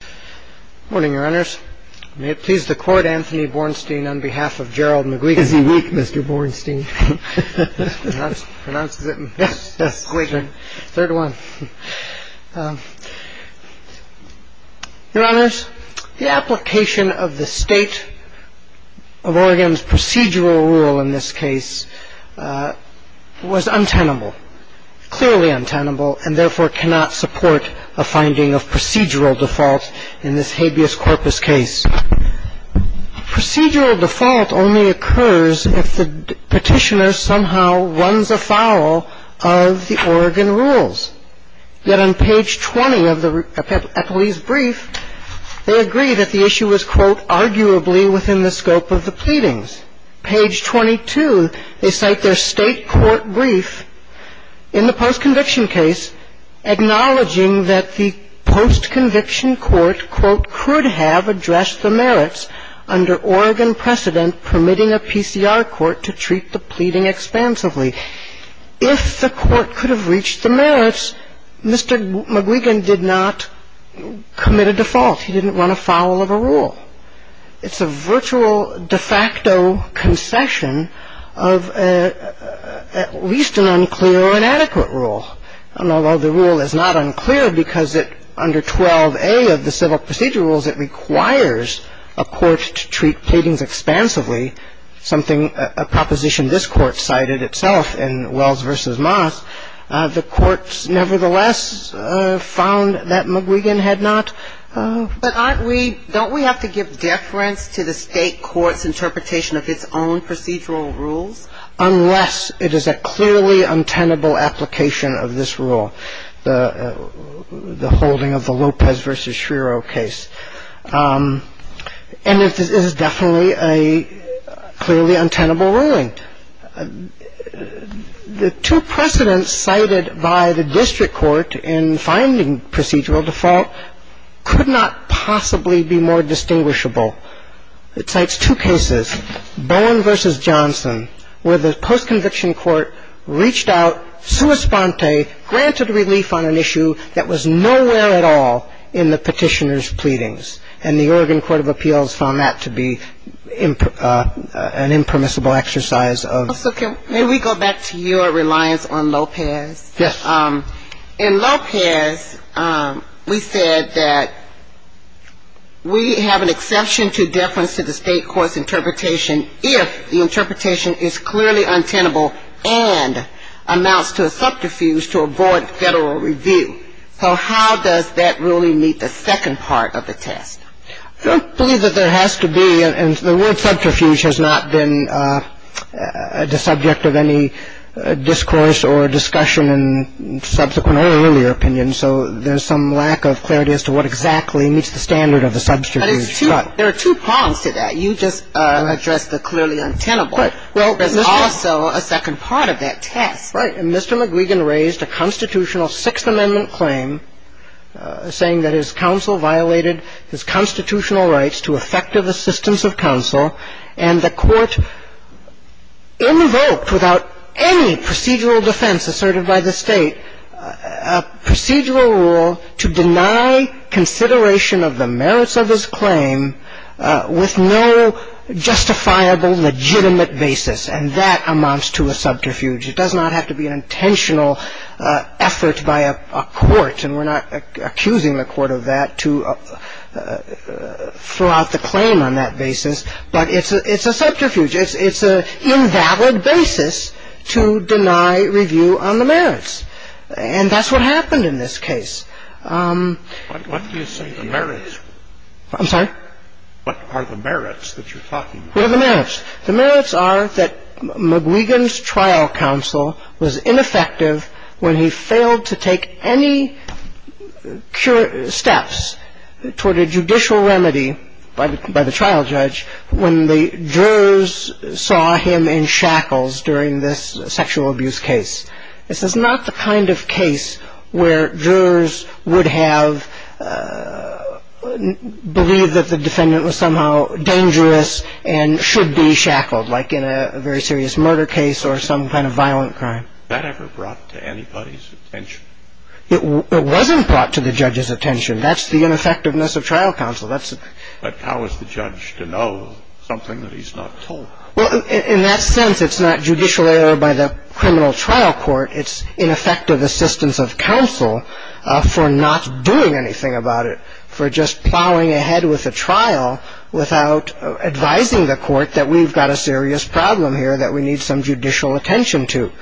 Good morning, Your Honors. May it please the Court, Anthony Bornstein on behalf of Gerald McGuigan. Is he weak, Mr. Bornstein? Yes. Third one. Your Honors, the application of the State of Oregon's procedural rule in this case was untenable, clearly untenable, and therefore cannot support a finding of procedural default in this habeas corpus case. Procedural default only occurs if the petitioner somehow runs afoul of the Oregon rules. Yet on page 20 of the Eppley's brief, they agree that the issue was, quote, In the post-conviction case, acknowledging that the post-conviction court, quote, could have addressed the merits under Oregon precedent permitting a PCR court to treat the pleading expansively. If the court could have reached the merits, Mr. McGuigan did not commit a default. He didn't run afoul of a rule. It's a virtual de facto concession of at least an unclear or inadequate rule. And although the rule is not unclear because it, under 12a of the civil procedural rules, it requires a court to treat pleadings expansively, something a proposition this Court cited itself in Wells v. Moss, the Court nevertheless found that McGuigan had not. And so we have to give deference to the State court's interpretation of its own procedural rules. Unless it is a clearly untenable application of this rule, the holding of the Lopez v. Schreiro case. And it is definitely a clearly untenable ruling. The two precedents cited by the district court in finding procedural default could not possibly be more distinguishable. It cites two cases, Bowen v. Johnson, where the post-conviction court reached out, sua sponte, granted relief on an issue that was nowhere at all in the Petitioner's pleadings. And the Oregon Court of Appeals found that to be an impermissible exercise of. So can we go back to your reliance on Lopez? Yes. In Lopez, we said that we have an exception to deference to the State court's interpretation if the interpretation is clearly untenable and amounts to a subterfuge to avoid Federal review. So how does that really meet the second part of the test? I don't believe that there has to be. And the word subterfuge has not been the subject of any discourse or discussion in subsequent or earlier opinions. So there's some lack of clarity as to what exactly meets the standard of a subterfuge. But it's two – there are two prongs to that. You just addressed the clearly untenable. Right. There's also a second part of that test. Right. And Mr. McGregor raised a constitutional Sixth Amendment claim saying that his counsel violated his constitutional rights to effective assistance of counsel. And the Court invoked without any procedural defense asserted by the State a procedural rule to deny consideration of the merits of his claim with no justifiable, legitimate basis. And that amounts to a subterfuge. It does not have to be an intentional effort by a court. And we're not accusing the court of that to throw out the claim on that basis. But it's a subterfuge. It's an invalid basis to deny review on the merits. And that's what happened in this case. What do you say the merits? I'm sorry? What are the merits that you're talking about? What are the merits? The merits are that McGregor's trial counsel was ineffective when he failed to take any steps toward a judicial remedy by the trial judge when the jurors saw him in shackles during this sexual abuse case. This is not the kind of case where jurors would have believed that the defendant was somehow dangerous and should be shackled, like in a very serious murder case or some kind of violent crime. Was that ever brought to anybody's attention? It wasn't brought to the judge's attention. That's the ineffectiveness of trial counsel. But how is the judge to know something that he's not told? Well, in that sense, it's not judicial error by the criminal trial court. It's ineffective assistance of counsel for not doing anything about it, for just plowing ahead with the trial without advising the court that we've got a serious problem here that we need some judicial attention to.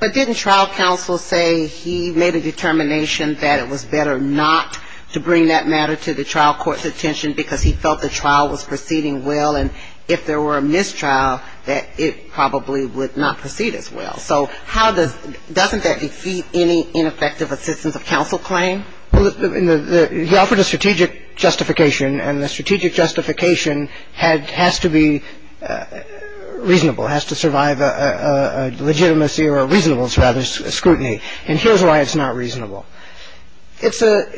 But didn't trial counsel say he made a determination that it was better not to bring that matter to the trial court's attention because he felt the trial was proceeding well? And if there were a mistrial, that it probably would not proceed as well. So how does — doesn't that defeat any ineffective assistance of counsel claim? He offered a strategic justification, and the strategic justification has to be reasonable, has to survive a legitimacy or a reasonable scrutiny. And here's why it's not reasonable. It's a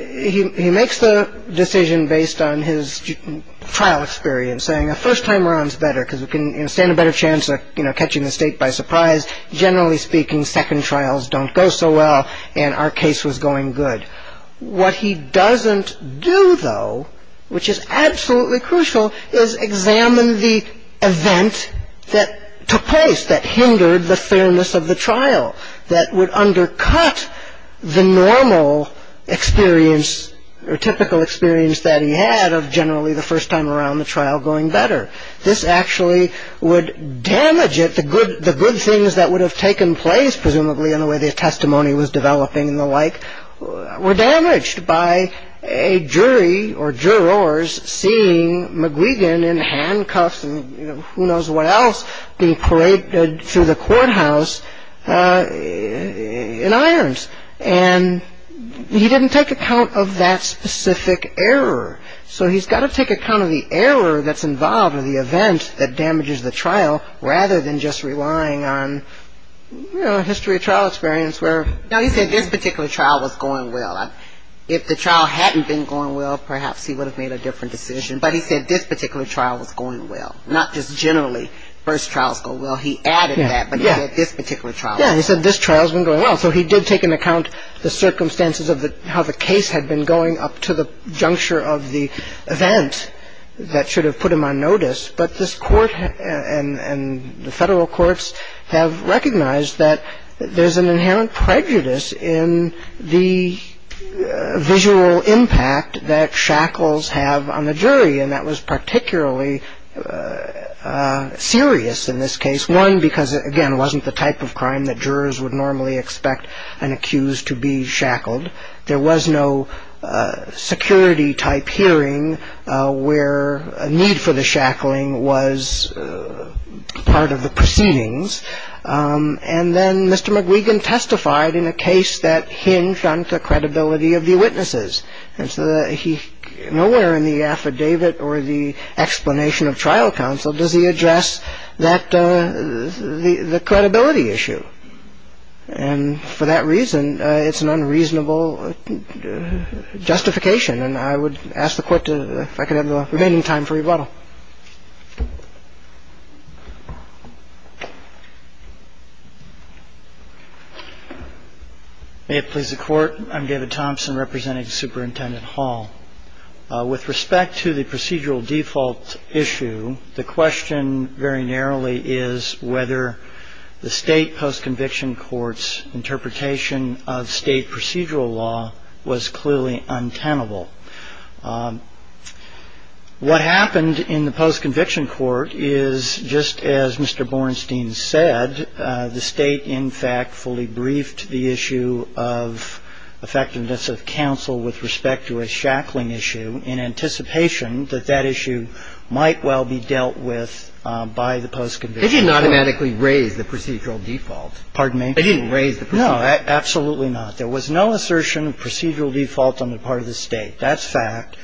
— he makes the decision based on his trial experience, saying the first time around is better because we can stand a better chance of, you know, catching the state by surprise. Generally speaking, second trials don't go so well, and our case was going good. What he doesn't do, though, which is absolutely crucial, is examine the event that took place that hindered the fairness of the trial, that would undercut the normal experience or typical experience that he had of generally the first time around the trial going better. This actually would damage it. The good things that would have taken place, presumably, in the way the testimony was developing and the like were damaged by a jury or jurors seeing McGuigan in handcuffs and who knows what else being paraded through the courthouse in irons, and he didn't take account of that specific error. So he's got to take account of the error that's involved or the event that damages the trial rather than just relying on, you know, history of trial experience where — No, he said this particular trial was going well. If the trial hadn't been going well, perhaps he would have made a different decision, but he said this particular trial was going well, not just generally first trials go well. He added that, but he said this particular trial was going well. Yeah, he said this trial's been going well. So he did take into account the circumstances of how the case had been going up to the juncture of the event that should have put him on notice, but this court and the federal courts have recognized that there's an inherent prejudice in the visual impact that shackles have on the jury, and that was particularly serious in this case. One, because, again, it wasn't the type of crime that jurors would normally expect an accused to be shackled. There was no security-type hearing where a need for the shackling was part of the proceedings. And then Mr. McGuigan testified in a case that hinged on the credibility of the witnesses. And so nowhere in the affidavit or the explanation of trial counsel does he address that the credibility issue. And for that reason, it's an unreasonable justification. And I would ask the Court if I could have the remaining time for rebuttal. May it please the Court. I'm David Thompson representing Superintendent Hall. With respect to the procedural default issue, the question very narrowly is whether the state post-conviction court's interpretation of state procedural law was clearly untenable. What happened in the post-conviction court is, just as Mr. Bornstein said, the state, in fact, fully briefed the issue of effectiveness of counsel with respect to a shackling issue in anticipation that that issue might well be dealt with by the post-conviction court. They didn't automatically raise the procedural default. Pardon me? They didn't raise the procedural default. No, absolutely not. There was no assertion of procedural default on the part of the state. That's fact.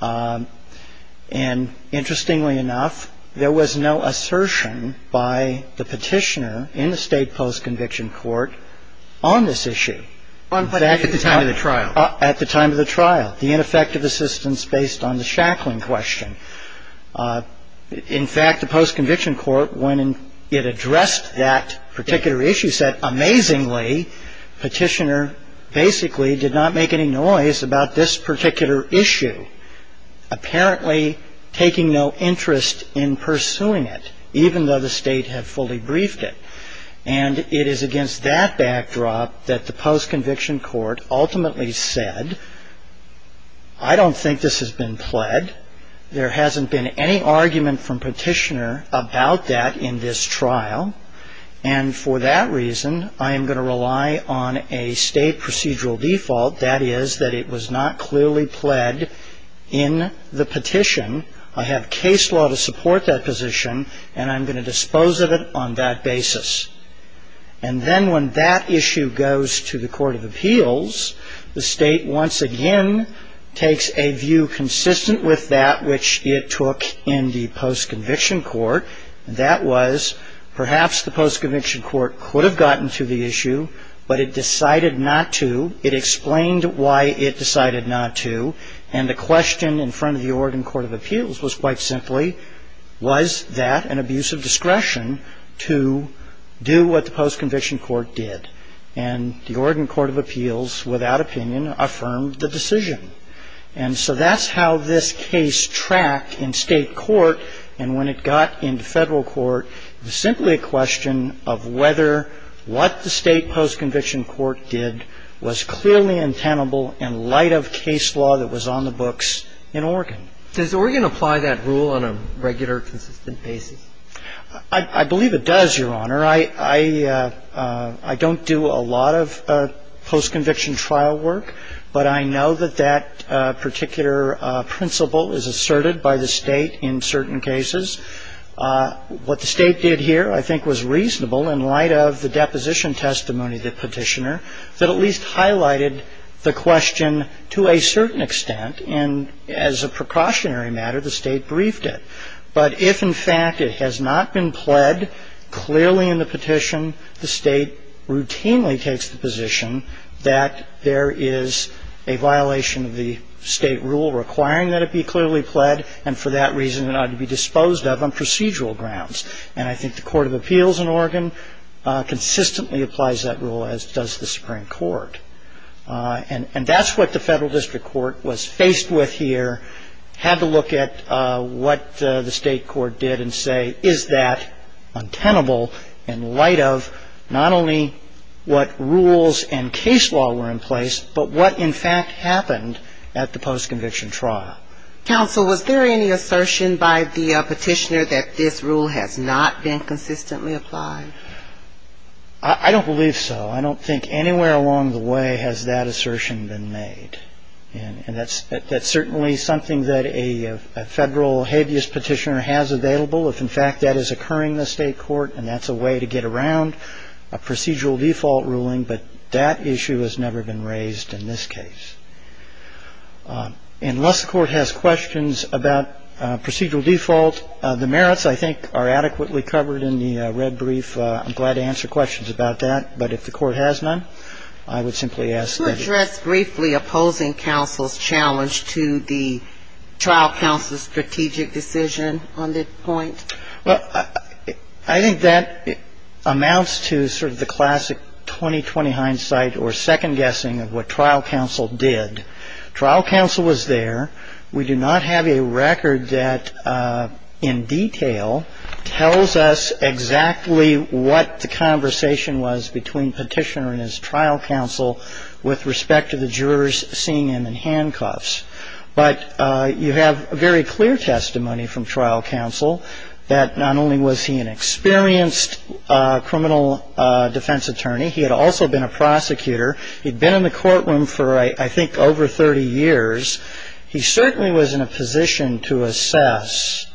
And interestingly enough, there was no assertion by the Petitioner in the state post-conviction court on this issue. At the time of the trial. At the time of the trial. The ineffective assistance based on the shackling question. In fact, the post-conviction court, when it addressed that particular issue, said, amazingly, Petitioner basically did not make any noise about this particular issue, apparently taking no interest in pursuing it, even though the state had fully briefed it. And it is against that backdrop that the post-conviction court ultimately said, I don't think this has been pled. There hasn't been any argument from Petitioner about that in this trial. And for that reason, I am going to rely on a state procedural default. That is, that it was not clearly pled in the petition. I have case law to support that position, and I'm going to dispose of it on that basis. And then when that issue goes to the court of appeals, the state once again takes a view consistent with that which it took in the post-conviction court. And that was, perhaps the post-conviction court could have gotten to the issue, but it decided not to. It explained why it decided not to. And the question in front of the Oregon court of appeals was quite simply, was that an abuse of discretion to do what the post-conviction court did? And the Oregon court of appeals, without opinion, affirmed the decision. And so that's how this case tracked in state court. And when it got into federal court, it was simply a question of whether what the state post-conviction court did was clearly and tenable in light of case law that was on the books in Oregon. Does Oregon apply that rule on a regular, consistent basis? I believe it does, Your Honor. I don't do a lot of post-conviction trial work, but I know that that particular principle is asserted by the state in certain cases. What the state did here I think was reasonable in light of the deposition testimony of the petitioner that at least highlighted the question to a certain extent. And as a precautionary matter, the state briefed it. But if, in fact, it has not been pled clearly in the petition, the state routinely takes the position that there is a violation of the state rule requiring that it be clearly pled, and for that reason it ought to be disposed of on procedural grounds. And I think the Court of Appeals in Oregon consistently applies that rule, as does the Supreme Court. And that's what the federal district court was faced with here, had to look at what the state court did and say, is that untenable in light of not only what rules and case law were in place, but what, in fact, happened at the post-conviction trial. Counsel, was there any assertion by the petitioner that this rule has not been consistently applied? I don't believe so. I don't think anywhere along the way has that assertion been made. And that's certainly something that a federal habeas petitioner has available, if, in fact, that is occurring in the state court and that's a way to get around a procedural default ruling. But that issue has never been raised in this case. Unless the court has questions about procedural default, the merits, I think, are adequately covered in the red brief. I'm glad to answer questions about that. But if the court has none, I would simply ask that it's... Could you address briefly opposing counsel's challenge to the trial counsel's strategic decision on this point? Well, I think that amounts to sort of the classic 20-20 hindsight or second guessing of what trial counsel did. Trial counsel was there. We do not have a record that, in detail, tells us exactly what the conversation was between petitioner and his trial counsel with respect to the jurors seeing him in handcuffs. But you have very clear testimony from trial counsel that not only was he an experienced criminal defense attorney, he had also been a prosecutor. He'd been in the courtroom for, I think, over 30 years. He certainly was in a position to assess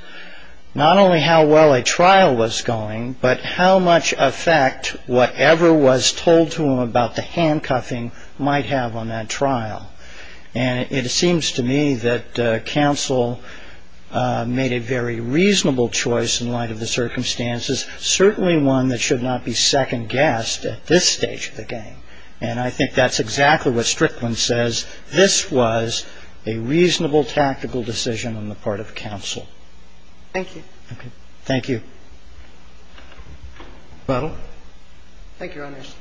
not only how well a trial was going, but how much effect whatever was told to him about the handcuffing might have on that trial. And it seems to me that counsel made a very reasonable choice in light of the circumstances, certainly one that should not be second-guessed at this stage of the game. And I think that's exactly what Strickland says. This was a reasonable tactical decision on the part of counsel. Thank you. Thank you. Thank you, Your Honors.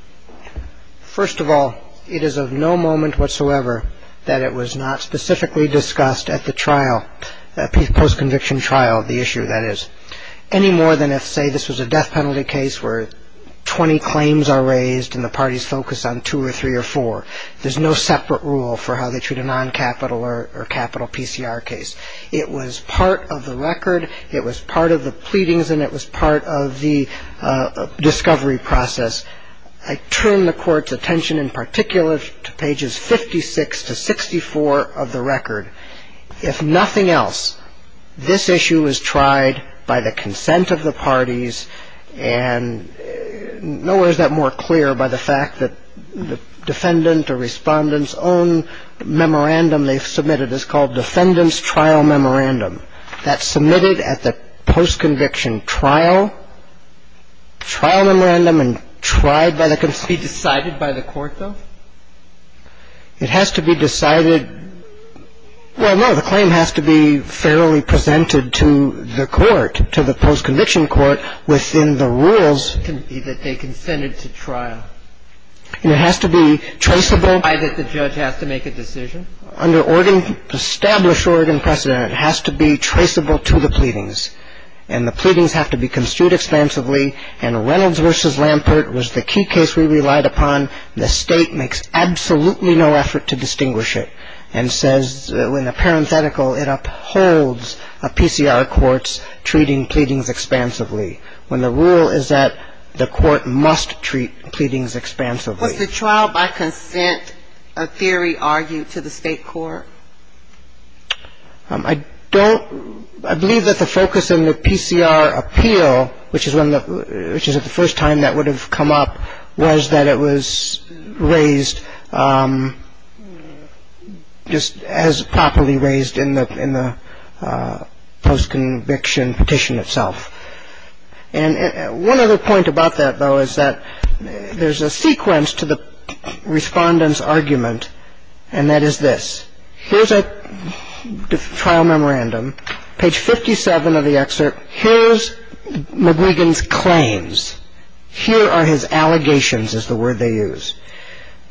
First of all, it is of no moment whatsoever that it was not specifically discussed at the trial, post-conviction trial, the issue that is, any more than if, say, this was a death penalty case where 20 claims are raised and the parties focus on two or three or four. There's no separate rule for how they treat a non-capital or capital PCR case. It was part of the record, it was part of the pleadings, and it was part of the discovery process. I turn the Court's attention in particular to pages 56 to 64 of the record. If nothing else, this issue was tried by the consent of the parties, and nowhere is that more clear by the fact that the defendant or respondent's own memorandum they submitted is called defendant's trial memorandum. The defendant's trial memorandum is called defendant's trial memorandum. That's submitted at the post-conviction trial. Trial memorandum and tried by the consent. Be decided by the court, though? It has to be decided. Well, no. The claim has to be fairly presented to the court, to the post-conviction court, within the rules. That they consented to trial. And it has to be traceable. Why did the judge have to make a decision? Under established Oregon precedent, it has to be traceable to the pleadings. And the pleadings have to be construed expansively. And Reynolds v. Lampert was the key case we relied upon. The State makes absolutely no effort to distinguish it and says in a parenthetical it upholds a PCR court's treating pleadings expansively, when the rule is that the court must treat pleadings expansively. Was the trial by consent a theory argued to the State court? I don't ‑‑ I believe that the focus in the PCR appeal, which is the first time that would have come up, was that it was raised just as properly raised in the post-conviction petition itself. And one other point about that, though, is that there's a sequence to the Respondent's argument, and that is this. Here's a trial memorandum, page 57 of the excerpt. Here's McGuigan's claims. Here are his allegations, is the word they use.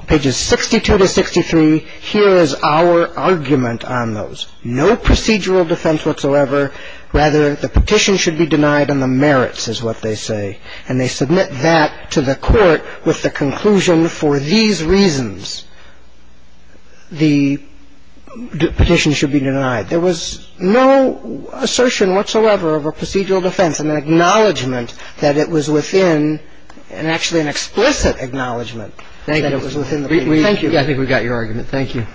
Pages 62 to 63, here is our argument on those. No procedural defense whatsoever. Rather, the petition should be denied on the merits, is what they say. And they submit that to the court with the conclusion, for these reasons, the petition should be denied. There was no assertion whatsoever of a procedural defense and an acknowledgment that it was within ‑‑ and actually an explicit acknowledgment that it was within the ‑‑ Thank you. I think we've got your argument. Thank you.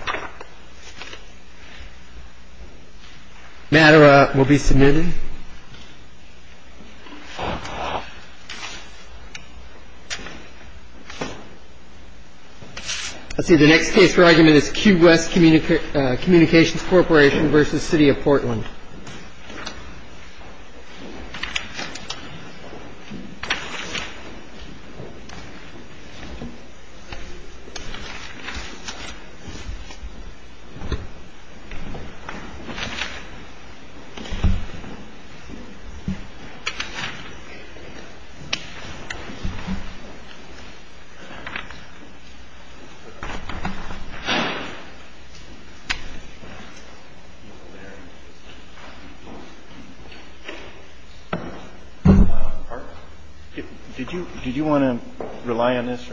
The matter will be submitted. The next case for argument is Cube West Communications Corporation v. City of Portland. Thank you. Thank you. Did you want to rely on this, sir?